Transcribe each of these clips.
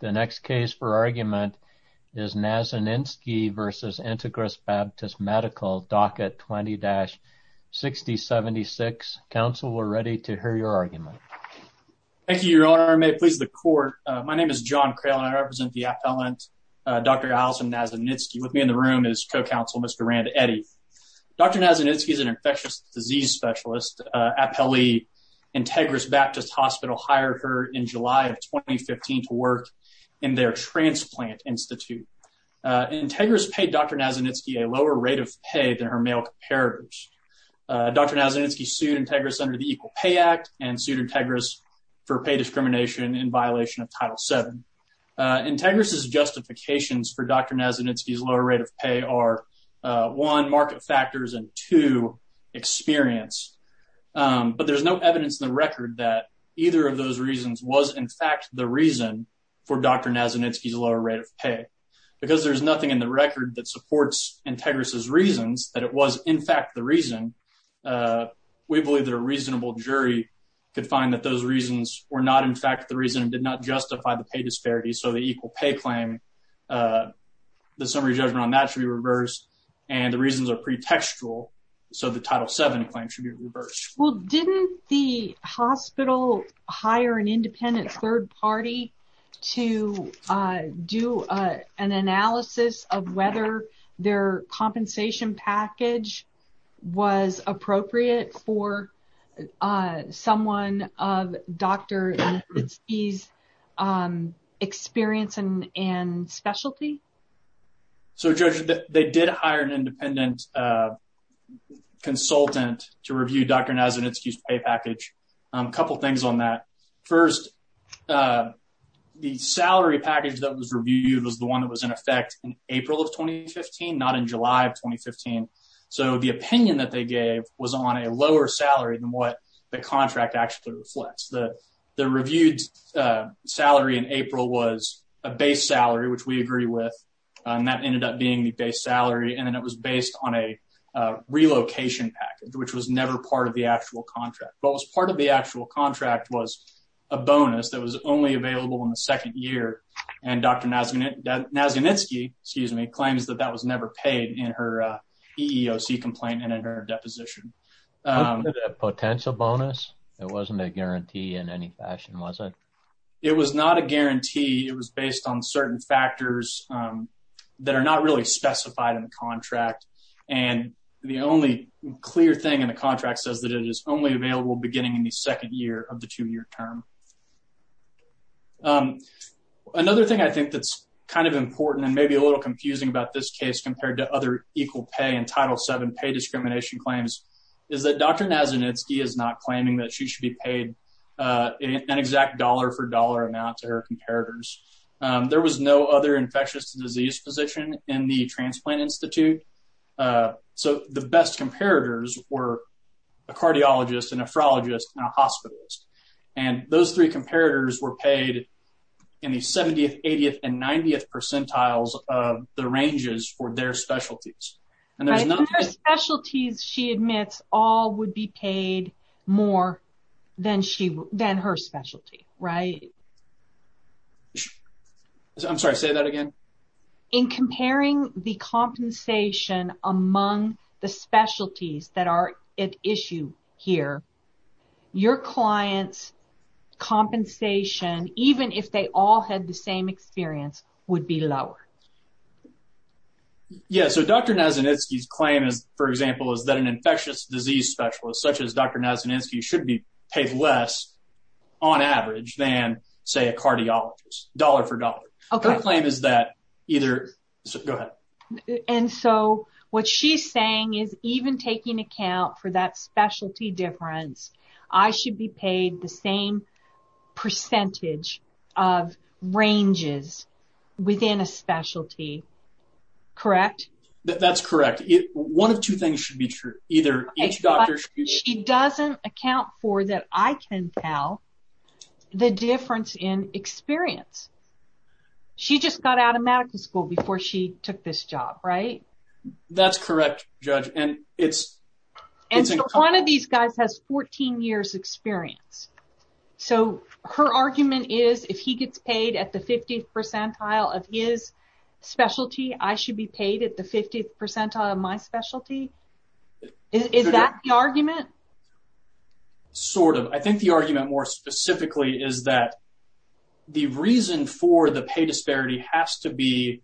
The next case for argument is Nazinitsky v. Integris Baptist Medical, docket 20-6076. Counsel, we're ready to hear your argument. Thank you, your honor. May it please the court. My name is John Crail and I represent the appellant Dr. Allison Nazinitsky. With me in the room is co-counsel Mr. Rand Eddy. Dr. Nazinitsky is an infectious disease specialist. Appellee Integris Baptist Hospital hired her in July of 2015 to work in their transplant institute. Integris paid Dr. Nazinitsky a lower rate of pay than her male comparators. Dr. Nazinitsky sued Integris under the Equal Pay Act and sued Integris for pay discrimination in violation of Title VII. Integris's justifications for Dr. Nazinitsky's lower rate of pay are, one, market factors, and experience. But there's no evidence in the record that either of those reasons was, in fact, the reason for Dr. Nazinitsky's lower rate of pay. Because there's nothing in the record that supports Integris's reasons that it was, in fact, the reason, we believe that a reasonable jury could find that those reasons were not, in fact, the reason and did not justify the pay disparities. So the Equal Pay claim, the summary judgment on that should be reversed and the reasons are pretextual. So the Title VII claim should be reversed. Well, didn't the hospital hire an independent third party to do an analysis of whether their compensation package was appropriate for someone of Dr. Nazinitsky's experience and specialty? So, Judge, they did hire an independent consultant to review Dr. Nazinitsky's pay package. A couple things on that. First, the salary package that was reviewed was the one that was in effect in April of 2015, not in July of 2015. So the opinion that they gave was on a lower salary than what the contract actually reflects. The reviewed salary in April was a base salary, which we agree with, and that ended up being the base salary. And then it was based on a relocation package, which was never part of the actual contract. What was part of the actual contract was a bonus that was only available in the second year. And Dr. Nazinitsky, excuse me, claims that that was never paid in her EEOC complaint and in her deposition. Was it a potential bonus? It wasn't a guarantee in any fashion, was it? It was not a guarantee. It was based on certain factors that are not really specified in the contract. And the only clear thing in the contract says that it is only available beginning in the second year of the two-year term. Another thing I think that's kind of important and maybe a little confusing about this case compared to other equal pay and Title VII pay discrimination claims is that Dr. Nazinitsky is not claiming that she should be paid an exact dollar-for-dollar amount to her comparators. There was no other infectious disease physician in the transplant institute, so the best comparators were a cardiologist, a nephrologist, and a hospitalist. And those three comparators were paid in the 70th, 80th, and 90th percentiles of the ranges for their specialties. She admits all would be paid more than her specialty, right? I'm sorry, say that again. In comparing the compensation among the specialties that are at issue here, your client's compensation, even if they all had the same experience, would be lower. Yeah, so Dr. Nazinitsky's claim is, for example, is that an infectious disease specialist such as Dr. Nazinitsky should be paid less on average than, say, a cardiologist, dollar-for-dollar. Okay. My claim is that either, so go ahead. And so what she's saying is even taking account for that specialty difference, I should be paid the same percentage of ranges within a specialty. Correct? That's correct. One of two things should be true. Either each doctor should be... She doesn't account for, that I can tell, the difference in experience. She just got out of medical school before she took this job, right? That's correct, Judge, and it's... And so one of these guys has 14 years experience, so her argument is if he gets paid at the 50th specialty, I should be paid at the 50th percentile of my specialty. Is that the argument? Sort of. I think the argument more specifically is that the reason for the pay disparity has to be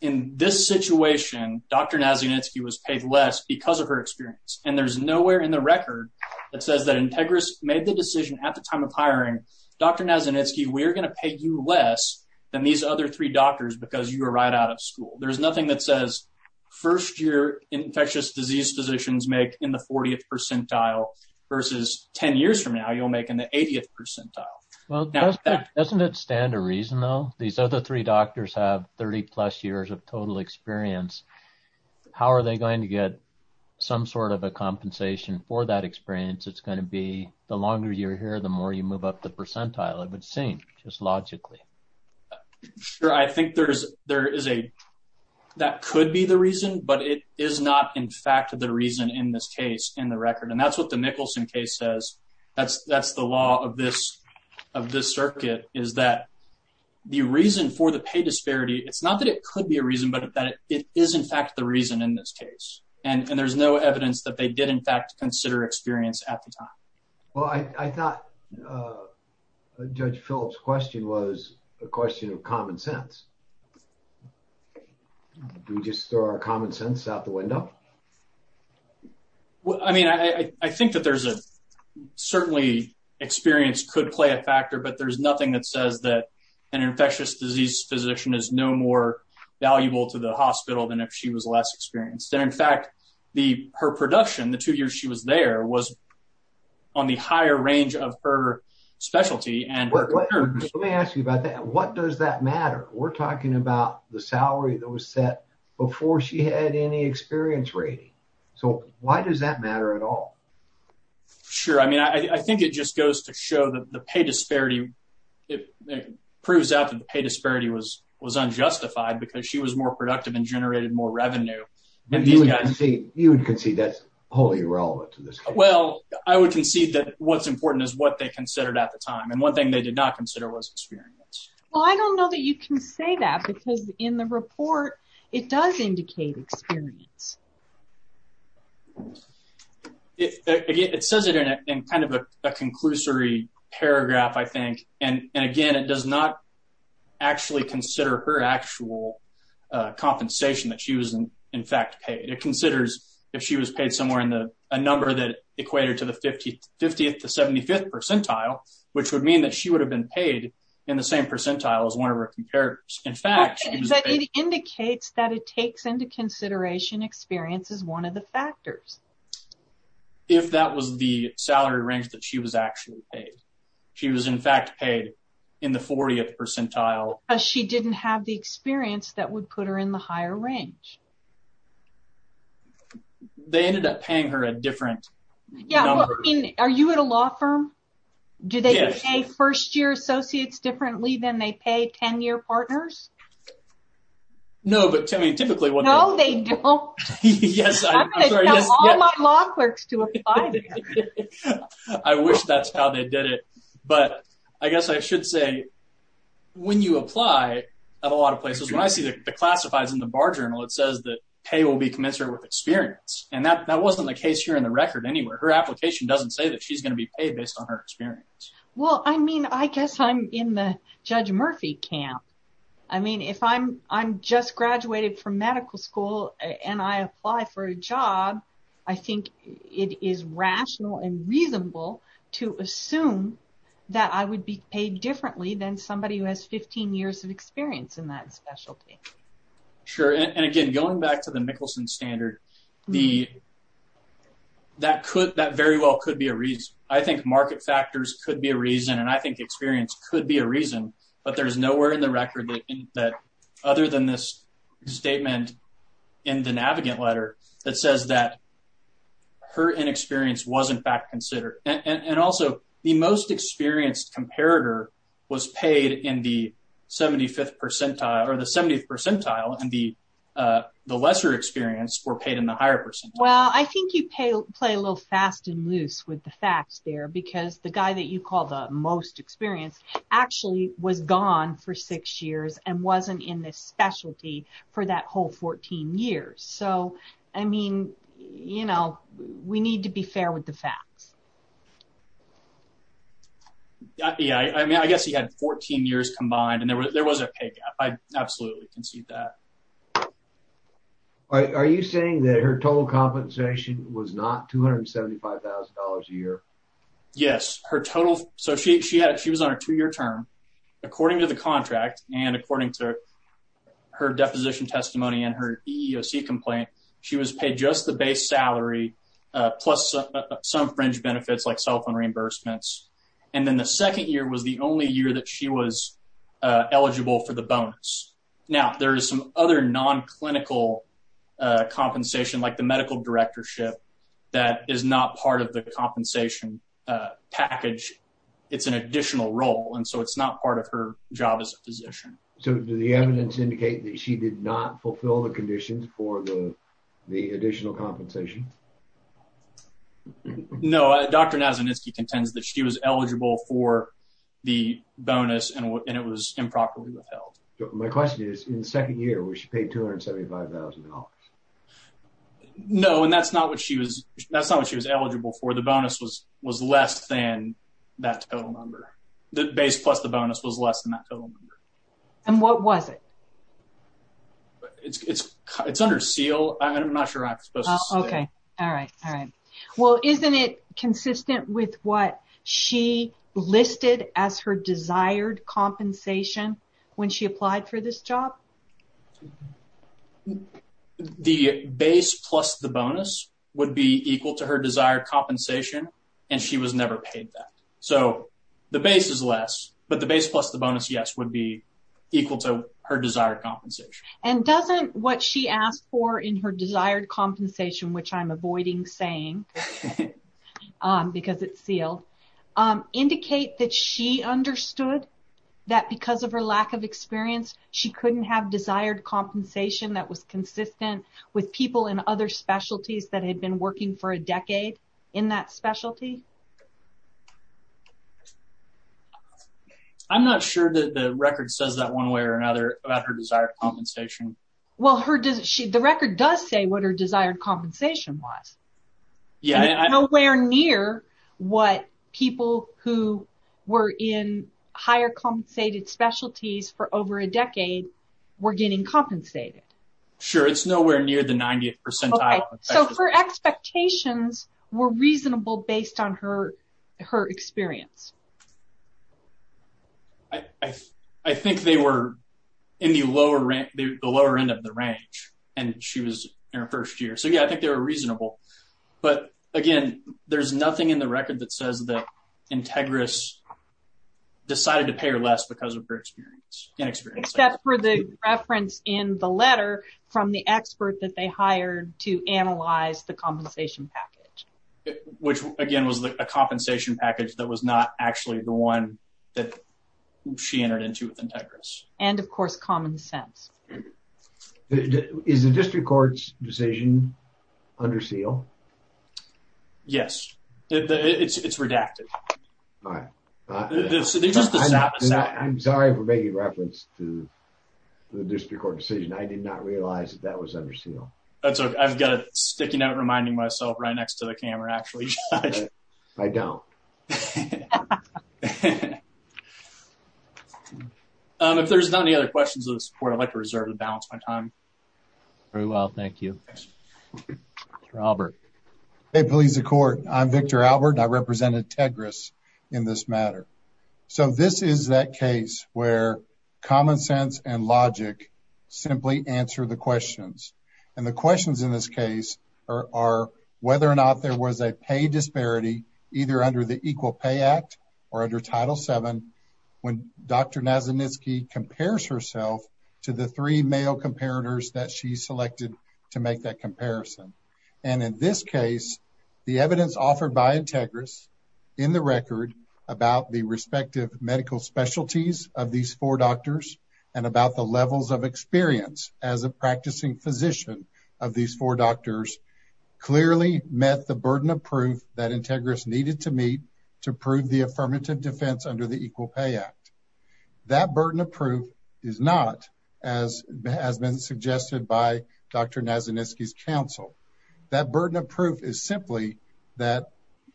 in this situation, Dr. Nazinitsky was paid less because of her experience, and there's nowhere in the record that says that Integris made the decision at the time of hiring, Dr. Nazinitsky, we're going to pay you less than these other three doctors because you were right out of school. There's nothing that says first year infectious disease physicians make in the 40th percentile versus 10 years from now, you'll make in the 80th percentile. Well, doesn't it stand to reason, though? These other three doctors have 30 plus years of total experience. How are they going to get some sort of a compensation for that experience? It's going to be the longer you're here, the more you move up the percentile, it would seem, just logically. Sure, I think that could be the reason, but it is not, in fact, the reason in this case, in the record, and that's what the Nicholson case says. That's the law of this circuit, is that the reason for the pay disparity, it's not that it could be a reason, but that it is, in fact, the reason in this case, and there's no evidence that they did, in fact, consider experience at the time. Well, I thought Judge Phillips' question was a question of common sense. Do we just throw our common sense out the window? Well, I mean, I think that certainly experience could play a factor, but there's nothing that says that an infectious disease physician is no more valuable to the hospital than if she was experienced. In fact, her production, the two years she was there, was on the higher range of her specialty. Let me ask you about that. What does that matter? We're talking about the salary that was set before she had any experience rating, so why does that matter at all? Sure, I mean, I think it just goes to show that the pay disparity, it proves out that the pay disparity is not new. You would concede that's wholly irrelevant to this? Well, I would concede that what's important is what they considered at the time, and one thing they did not consider was experience. Well, I don't know that you can say that, because in the report, it does indicate experience. It says it in kind of a conclusory paragraph, I think, and again, it does not actually consider her actual compensation that she was, in fact, paid. It considers if she was paid somewhere in a number that equated to the 50th to 75th percentile, which would mean that she would have been paid in the same percentile as one of her comparators. In fact, she was paid... But it indicates that it takes into consideration experience as one of the factors. If that was the salary range that she was actually paid, she was, in fact, paid in the 40th percentile. She didn't have the experience that would put her in the higher range. They ended up paying her a different number. Yeah, well, I mean, are you at a law firm? Do they pay first-year associates differently than they pay 10-year partners? No, but I mean, typically... No, they don't. I'm going to tell all my law clerks to apply. I wish that's how they did it, but I guess I should say, when you apply at a lot of places, when I see the classifies in the bar journal, it says that pay will be commensurate with experience, and that wasn't the case here in the record anywhere. Her application doesn't say that she's going to be paid based on her experience. Well, I mean, I guess I'm in the medical school, and I apply for a job. I think it is rational and reasonable to assume that I would be paid differently than somebody who has 15 years of experience in that specialty. Sure, and again, going back to the Mickelson standard, that very well could be a reason. I think market factors could be a reason, and I think experience could be a reason, but there's nowhere in the record that, other than this statement in the Navigant letter, that says that her inexperience was, in fact, considered. And also, the most experienced comparator was paid in the 75th percentile, or the 70th percentile, and the lesser experience were paid in the higher percentile. Well, I think you play a little fast and for six years and wasn't in this specialty for that whole 14 years. So, I mean, you know, we need to be fair with the facts. Yeah, I mean, I guess he had 14 years combined, and there was a pay gap. I absolutely concede that. Are you saying that her total compensation was not $275,000 a year? Yes. So, she was on a two-year term. According to the contract and according to her deposition testimony and her EEOC complaint, she was paid just the base salary plus some fringe benefits like cell phone reimbursements, and then the second year was the only year that she was eligible for the bonus. Now, there is some other non-clinical compensation, like the medical directorship, that is not part of the compensation package. It's an additional role, and so it's not part of her job as a physician. So, do the evidence indicate that she did not fulfill the conditions for the additional compensation? No. Dr. Nazaninsky contends that she was eligible for the bonus, and it was improperly withheld. My question is, in the second year, she paid $275,000? No, and that's not what she was eligible for. The bonus was less than that total number. The base plus the bonus was less than that total number. And what was it? It's under SEAL. I'm not sure I'm supposed to say. Okay. All right. All right. Well, isn't it consistent with what she listed as her desired compensation when she applied for this job? The base plus the bonus would be equal to her desired compensation, and she was never paid that. So, the base is less, but the base plus the bonus, yes, would be equal to her desired compensation. And doesn't what she asked for in her desired compensation, which I'm avoiding saying because it's SEAL, indicate that she understood that because of her lack of experience, she couldn't have desired compensation that was consistent with people in other specialties that had been working for a decade in that specialty? I'm not sure that the record says that one way or another about her desired compensation. Well, the record does say what her desired compensation was. Yeah. Nowhere near what people who were in higher compensated specialties for over a decade were getting compensated. Sure. It's nowhere near the 90th percentile. So, her expectations were reasonable based on her experience. I think they were in the lower end of the range, and she was in her first year. So, yeah, I think they were reasonable. But again, there's nothing in the record that says that Integris decided to pay her less because of her experience. Except for the reference in the letter from the expert that they hired to analyze the compensation package. Which, again, was a the one that she entered into with Integris. And, of course, common sense. Is the district court's decision under SEAL? Yes. It's redacted. I'm sorry for making reference to the district court decision. I did not realize that that was under SEAL. That's okay. I've got it sticking out, reminding myself right next to the camera, actually. I don't. If there's not any other questions of support, I'd like to reserve the balance of my time. Very well. Thank you. Mr. Albert. Hey, police and court. I'm Victor Albert. I represented Integris in this matter. So, this is that case where common sense and logic simply answer the pay disparity either under the Equal Pay Act or under Title VII when Dr. Nazaninsky compares herself to the three male comparators that she selected to make that comparison. And, in this case, the evidence offered by Integris in the record about the respective medical specialties of these four doctors and about the levels of experience as a practicing physician of these doctors clearly met the burden of proof that Integris needed to meet to prove the affirmative defense under the Equal Pay Act. That burden of proof is not as has been suggested by Dr. Nazaninsky's counsel. That burden of proof is simply that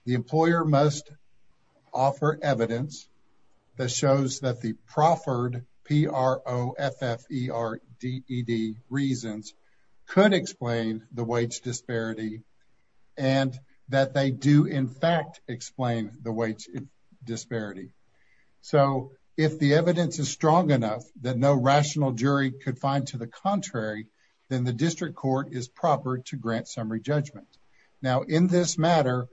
the employer must offer evidence that shows that the proffered P-R-O-F-F-E-R-D-E-D reasons could explain the wage disparity and that they do, in fact, explain the wage disparity. So, if the evidence is strong enough that no rational jury could find to the contrary, then the district court is proper to grant summary judgment. Now, in this matter,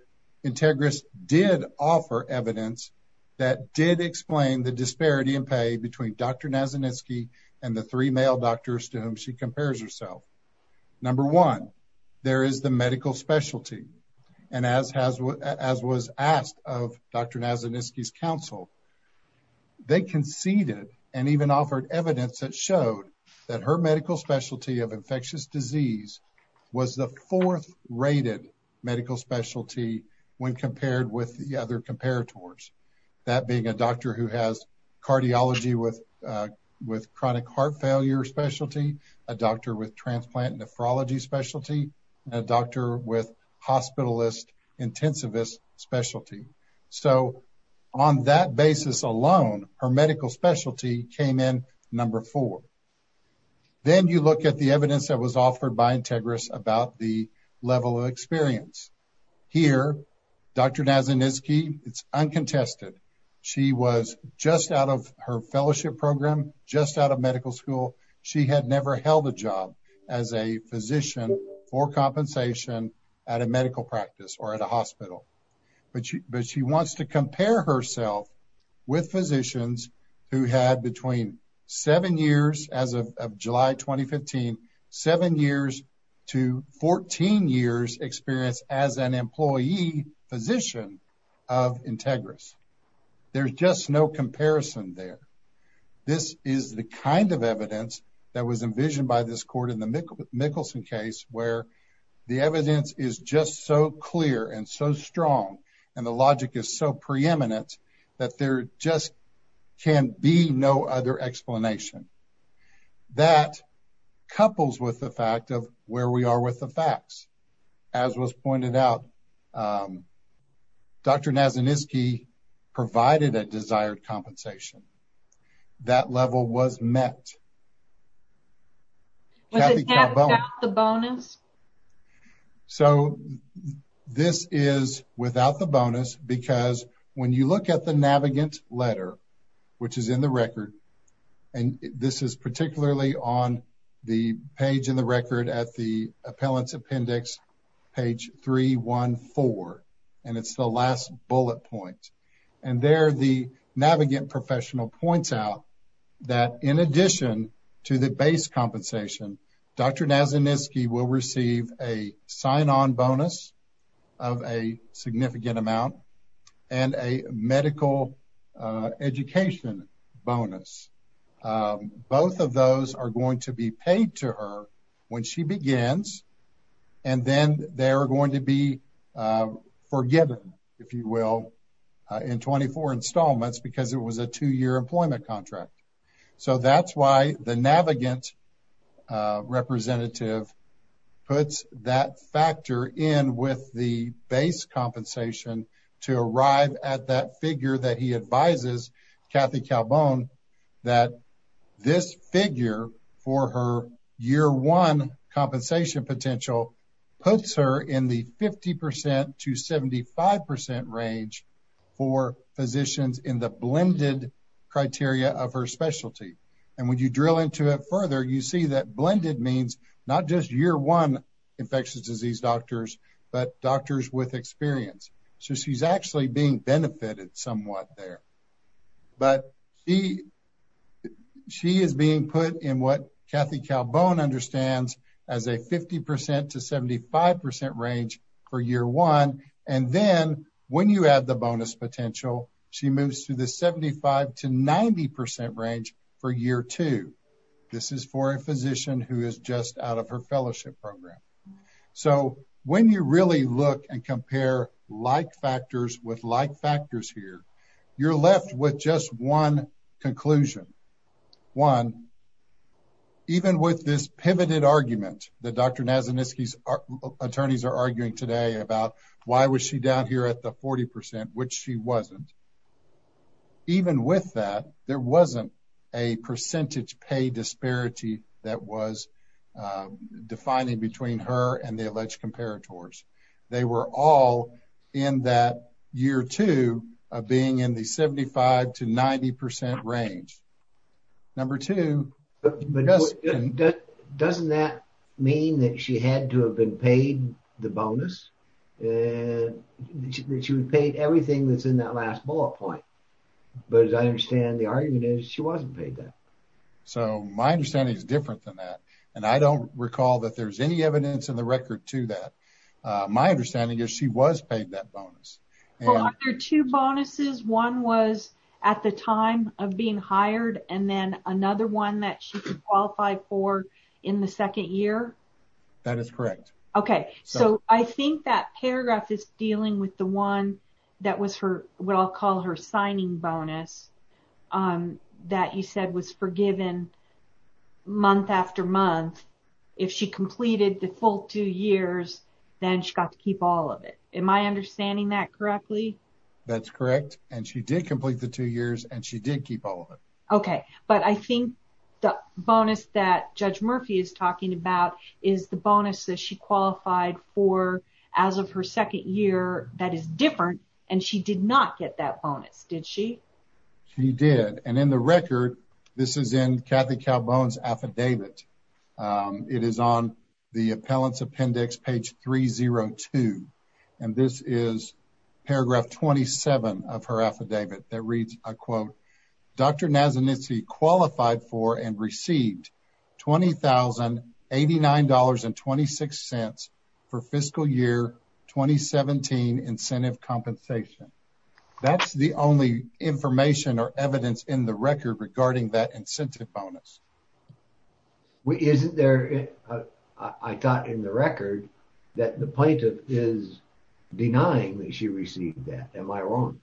Integris did offer evidence that did explain the disparity in pay between Dr. Nazaninsky and the three male doctors to whom she compares herself. Number one, there is the medical specialty. And as was asked of Dr. Nazaninsky's counsel, they conceded and even offered evidence that showed that her medical specialty of infectious disease was the fourth rated medical specialty when compared with the other comparators. That being a doctor who has cardiology with chronic heart failure specialty, a doctor with transplant nephrology specialty, and a doctor with hospitalist intensivist specialty. So, on that basis alone, her medical specialty came in number four. Then you look at the evidence that was offered by Integris about the level of experience. Here, Dr. Nazaninsky, it's uncontested. She was just out of her fellowship program, just out of medical school. She had never held a job as a physician for compensation at a medical practice or at a hospital. But she wants to compare herself with physicians who had between seven years as of July 2015, seven years to 14 years experience as an employee physician of Integris. There's just no comparison there. This is the kind of evidence that was envisioned by this court in the Mickelson case where the evidence is just so clear and so strong and the logic is so preeminent that there just can be no other explanation. That couples with the fact of where we are with the facts. As was pointed out, Dr. Nazaninsky provided a desired compensation. That level was met. Without the bonus? So, this is without the bonus because when you look at the Navigant letter, which is in the record, and this is particularly on the page in the record at the appellant's appendix, page 314, and it's the last bullet point. There, the Navigant professional points out that in addition to the base compensation, Dr. Nazaninsky will receive a sign-on bonus of a significant amount and a medical education bonus. Both of those are going to be paid to her when she begins and then they're going to be forgiven, if you will, in 24 installments because it was a two-year employment contract. So, that's why the Navigant representative puts that factor in with the base compensation to arrive at that figure that he advises Kathy Calbon that this figure for her year one compensation potential puts her in the 50% to 75% range for physicians in the blended criteria of her specialty. And when you drill into it further, you see that blended means not just year one infectious disease doctors, but doctors with experience. So, she's actually being benefited somewhat there. But she is being put in what Kathy Calbon understands as a 50% to 75% for year one. And then when you add the bonus potential, she moves to the 75% to 90% range for year two. This is for a physician who is just out of her fellowship program. So, when you really look and compare like factors with like factors here, you're left with just one conclusion. One, even with this pivoted argument that Dr. Nazaninsky's are arguing today about why was she down here at the 40% which she wasn't, even with that, there wasn't a percentage pay disparity that was defining between her and the alleged comparators. They were all in that year two of being in the 75% to 90% range. Number two, but doesn't that mean that she had to have been paid the bonus? She would pay everything that's in that last bullet point. But as I understand the argument is she wasn't paid that. So, my understanding is different than that. And I don't recall that there's any evidence in the record to that. My understanding is she was paid that bonus. Well, there are two bonuses. One was at the time of being hired and then another one that she could qualify for in the second year. That is correct. Okay. So, I think that paragraph is dealing with the one that was what I'll call her signing bonus that you said was forgiven month after month. If she completed the full two years, then she got to keep all of it. Am I understanding that correctly? That's correct. And she did complete the two years and she did keep all of it. Okay. But I think the bonus that Judge Murphy is talking about is the bonus that she qualified for as of her second year that is different and she did not get that bonus. Did she? She did. And in the record, this is in Kathy Calbone's affidavit. It is on the appellant's appendix, page 302. And this is paragraph 27 of her affidavit that reads, I quote, Dr. Nazanin qualified for and received $20,089.26 for fiscal year 2017 incentive compensation. That's the only information or evidence in the record regarding that incentive bonus. Well, isn't there, I thought in the record that the plaintiff is denying that she received that. Am I wrong?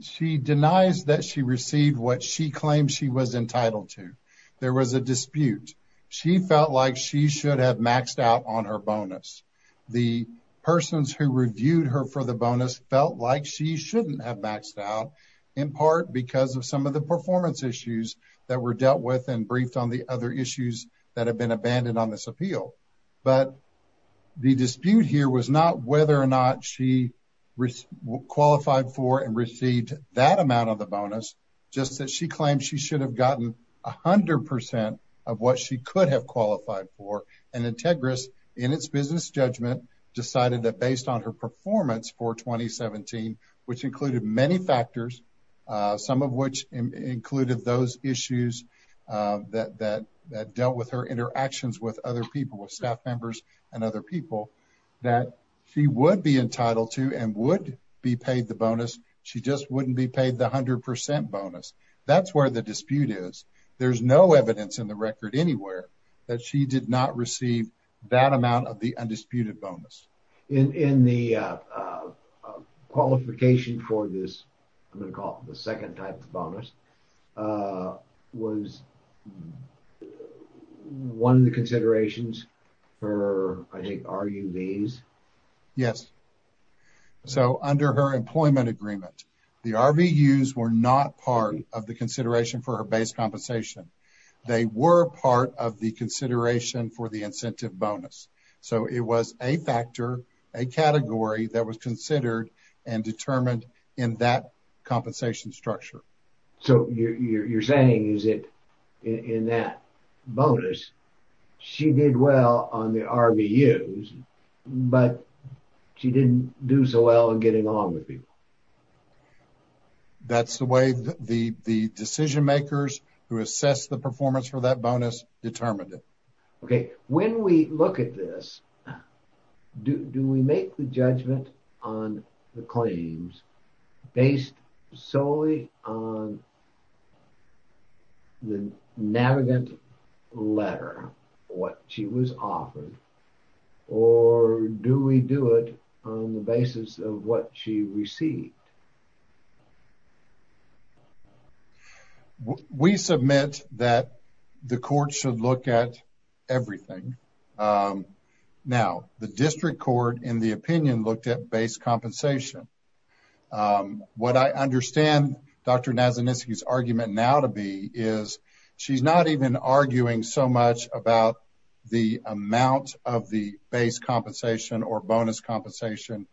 She denies that she received what she claimed she was entitled to. There was a dispute. She felt like she should have maxed out on her bonus. The persons who reviewed her for the bonus felt like she shouldn't have maxed out in part because of some of the performance issues that were dealt with and briefed on the other issues that have been abandoned on this appeal. But the dispute here was not whether or not she qualified for and received that amount of the bonus, just that she claimed she should have gotten 100% of what she could have qualified for. And Integris, in its business judgment, decided that based on her performance for 2017, which included many factors, some of which included those issues that dealt with her interactions with other people, with staff members and other people, that she would be entitled to and would be paid the bonus. She just wouldn't be paid the 100% bonus. That's where the dispute is. There's no evidence in record anywhere that she did not receive that amount of the undisputed bonus. In the qualification for this, I'm going to call it the second type of bonus, was one of the considerations for, I think, RUVs? Yes. So, under her employment agreement, the RVUs were not part of the consideration for her base compensation. They were part of the consideration for the incentive bonus. So, it was a factor, a category that was considered and determined in that compensation structure. So, you're saying, is it in that bonus, she did well on the RVUs, but she didn't do so well in getting along with people? Yes. That's the way the decision makers who assess the performance for that bonus determined it. Okay. When we look at this, do we make the judgment on the claims based solely on the navigant letter, what she was offered, or do we do it on the basis of what she received? We submit that the court should look at everything. Now, the district court, in the opinion, looked at base compensation. What I understand Dr. Nazaniski's argument now to be is, she's not even arguing so much about the amount of the base compensation or bonus compensation.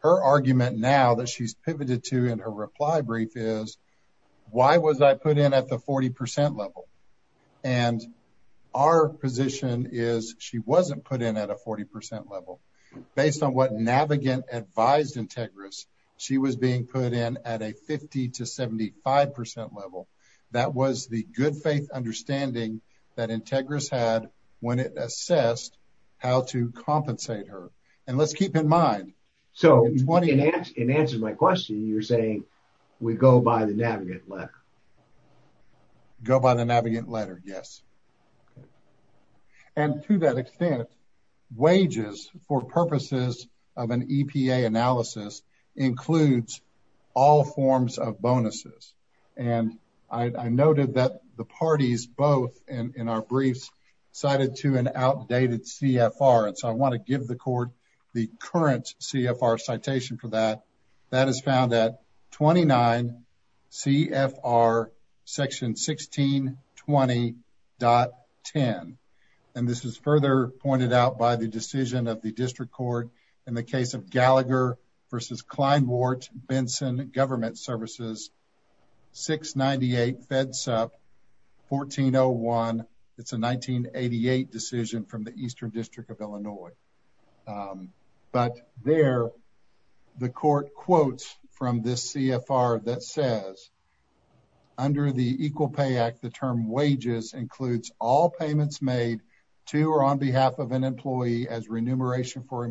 Her argument now that she's pivoted to in her reply brief is, why was I put in at the 40% level? And our position is, she wasn't put in at a 40% level. Based on what navigant advised Integris, she was being put in at a 50 to 75% level. That was the good faith understanding that Integris had when it assessed how to compensate her. And let's keep in mind- So, in answer to my question, you're saying we go by the navigant letter. Go by the navigant letter, yes. And to that extent, wages for purposes of an EPA analysis includes all forms of bonuses. And I noted that the parties both, in our briefs, cited to an outdated CFR. And so, I want to give the court the current CFR citation for that. That is found at 29 CFR section 1620.10. And this is further pointed out by the decision of the Kleinwart Benson Government Services, 698 Fed Sup, 1401. It's a 1988 decision from the Eastern District of Illinois. But there, the court quotes from this CFR that says, under the Equal Pay Act, the term wages includes all payments made to or on behalf of an employee as remuneration for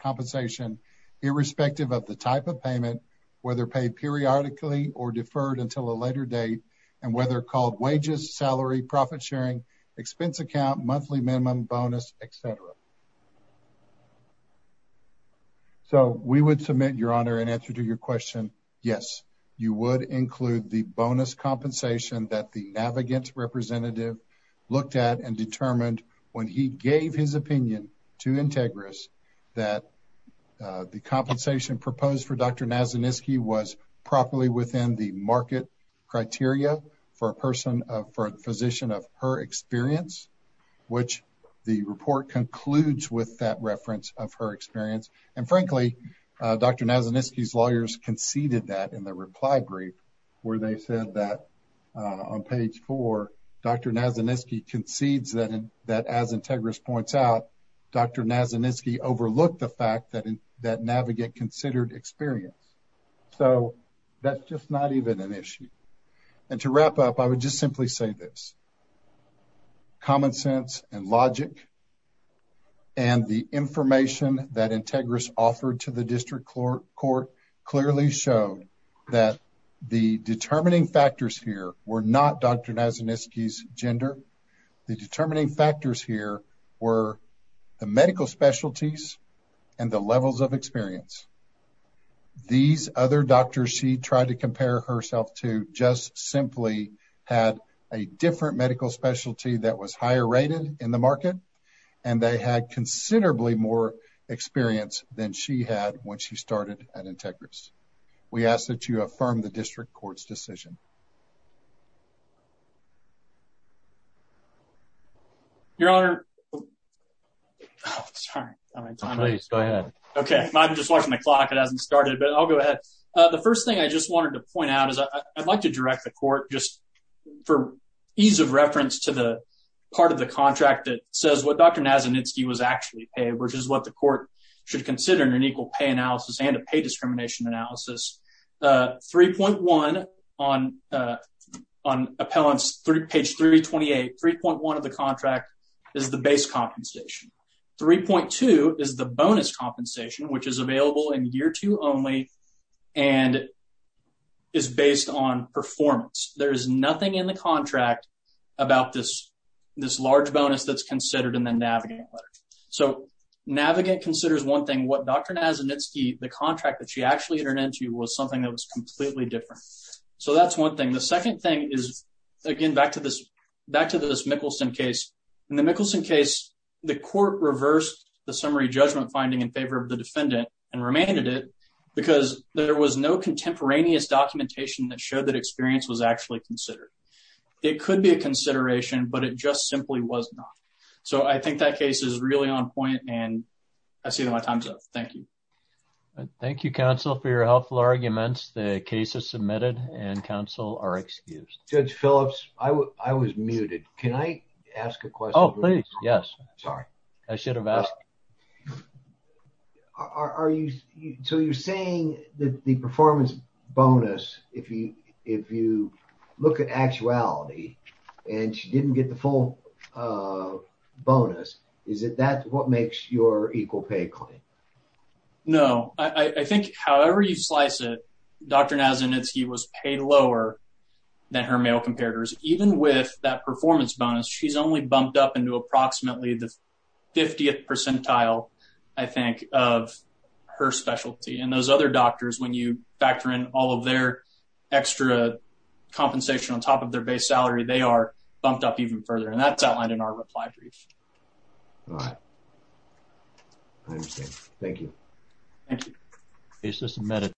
compensation irrespective of the type of payment, whether paid periodically or deferred until a later date, and whether called wages, salary, profit sharing, expense account, monthly minimum bonus, et cetera. So, we would submit, Your Honor, in answer to your question, yes, you would include the bonus compensation that the navigant representative looked at and determined when he that the compensation proposed for Dr. Nazaniski was properly within the market criteria for a person of, for a physician of her experience, which the report concludes with that reference of her experience. And frankly, Dr. Nazaniski's lawyers conceded that in the reply brief, where they said that on page four, Dr. Nazaniski concedes that as Integris points out, Dr. Nazaniski overlooked the fact that that navigate considered experience. So, that's just not even an issue. And to wrap up, I would just simply say this, common sense and logic and the information that Integris offered to the district court clearly showed that the determining factors here were not Dr. Nazaniski's gender. The determining factors here were the medical specialties and the levels of experience. These other doctors she tried to compare herself to just simply had a different medical specialty that was higher rated in the market, and they had considerably more experience than she had when she started at your honor. Sorry. Please go ahead. Okay. I'm just watching the clock. It hasn't started, but I'll go ahead. The first thing I just wanted to point out is I'd like to direct the court just for ease of reference to the part of the contract that says what Dr. Nazaniski was actually paid, which is what the court should consider in an equal pay analysis and a pay discrimination analysis. 3.1 on appellant's page 328, 3.1 of the contract is the base compensation. 3.2 is the bonus compensation, which is available in year two only and is based on performance. There is nothing in the contract about this large bonus that's considered in the navigating letter. So, Navigant considers one thing, what Dr. Nazaniski, the contract that she actually entered into was something that was completely different. So, that's one thing. The second thing is, again, back to this Mickelson case. In the Mickelson case, the court reversed the summary judgment finding in favor of the defendant and remained at it because there was no contemporaneous documentation that showed that experience was actually considered. It could be a consideration, but it just simply was not. So, I think that case is really on point and I see that my time's up. Thank you. Thank you, counsel, for your helpful arguments. The case is submitted and counsel are excused. Judge Phillips, I was muted. Can I ask a question? Oh, please. Yes. Sorry. I should have asked. So, you're saying that the performance bonus, if you look at actuality and she didn't get the full bonus, is that what makes your equal pay claim? No. I think however you slice it, Dr. Nazanitski was paid lower than her male competitors. Even with that performance bonus, she's only bumped up into approximately the 50th percentile, I think, of her specialty. And those other doctors, when you factor in all of extra compensation on top of their base salary, they are bumped up even further. And that's outlined in our reply brief. All right. I understand. Thank you. Thank you. Case is submitted.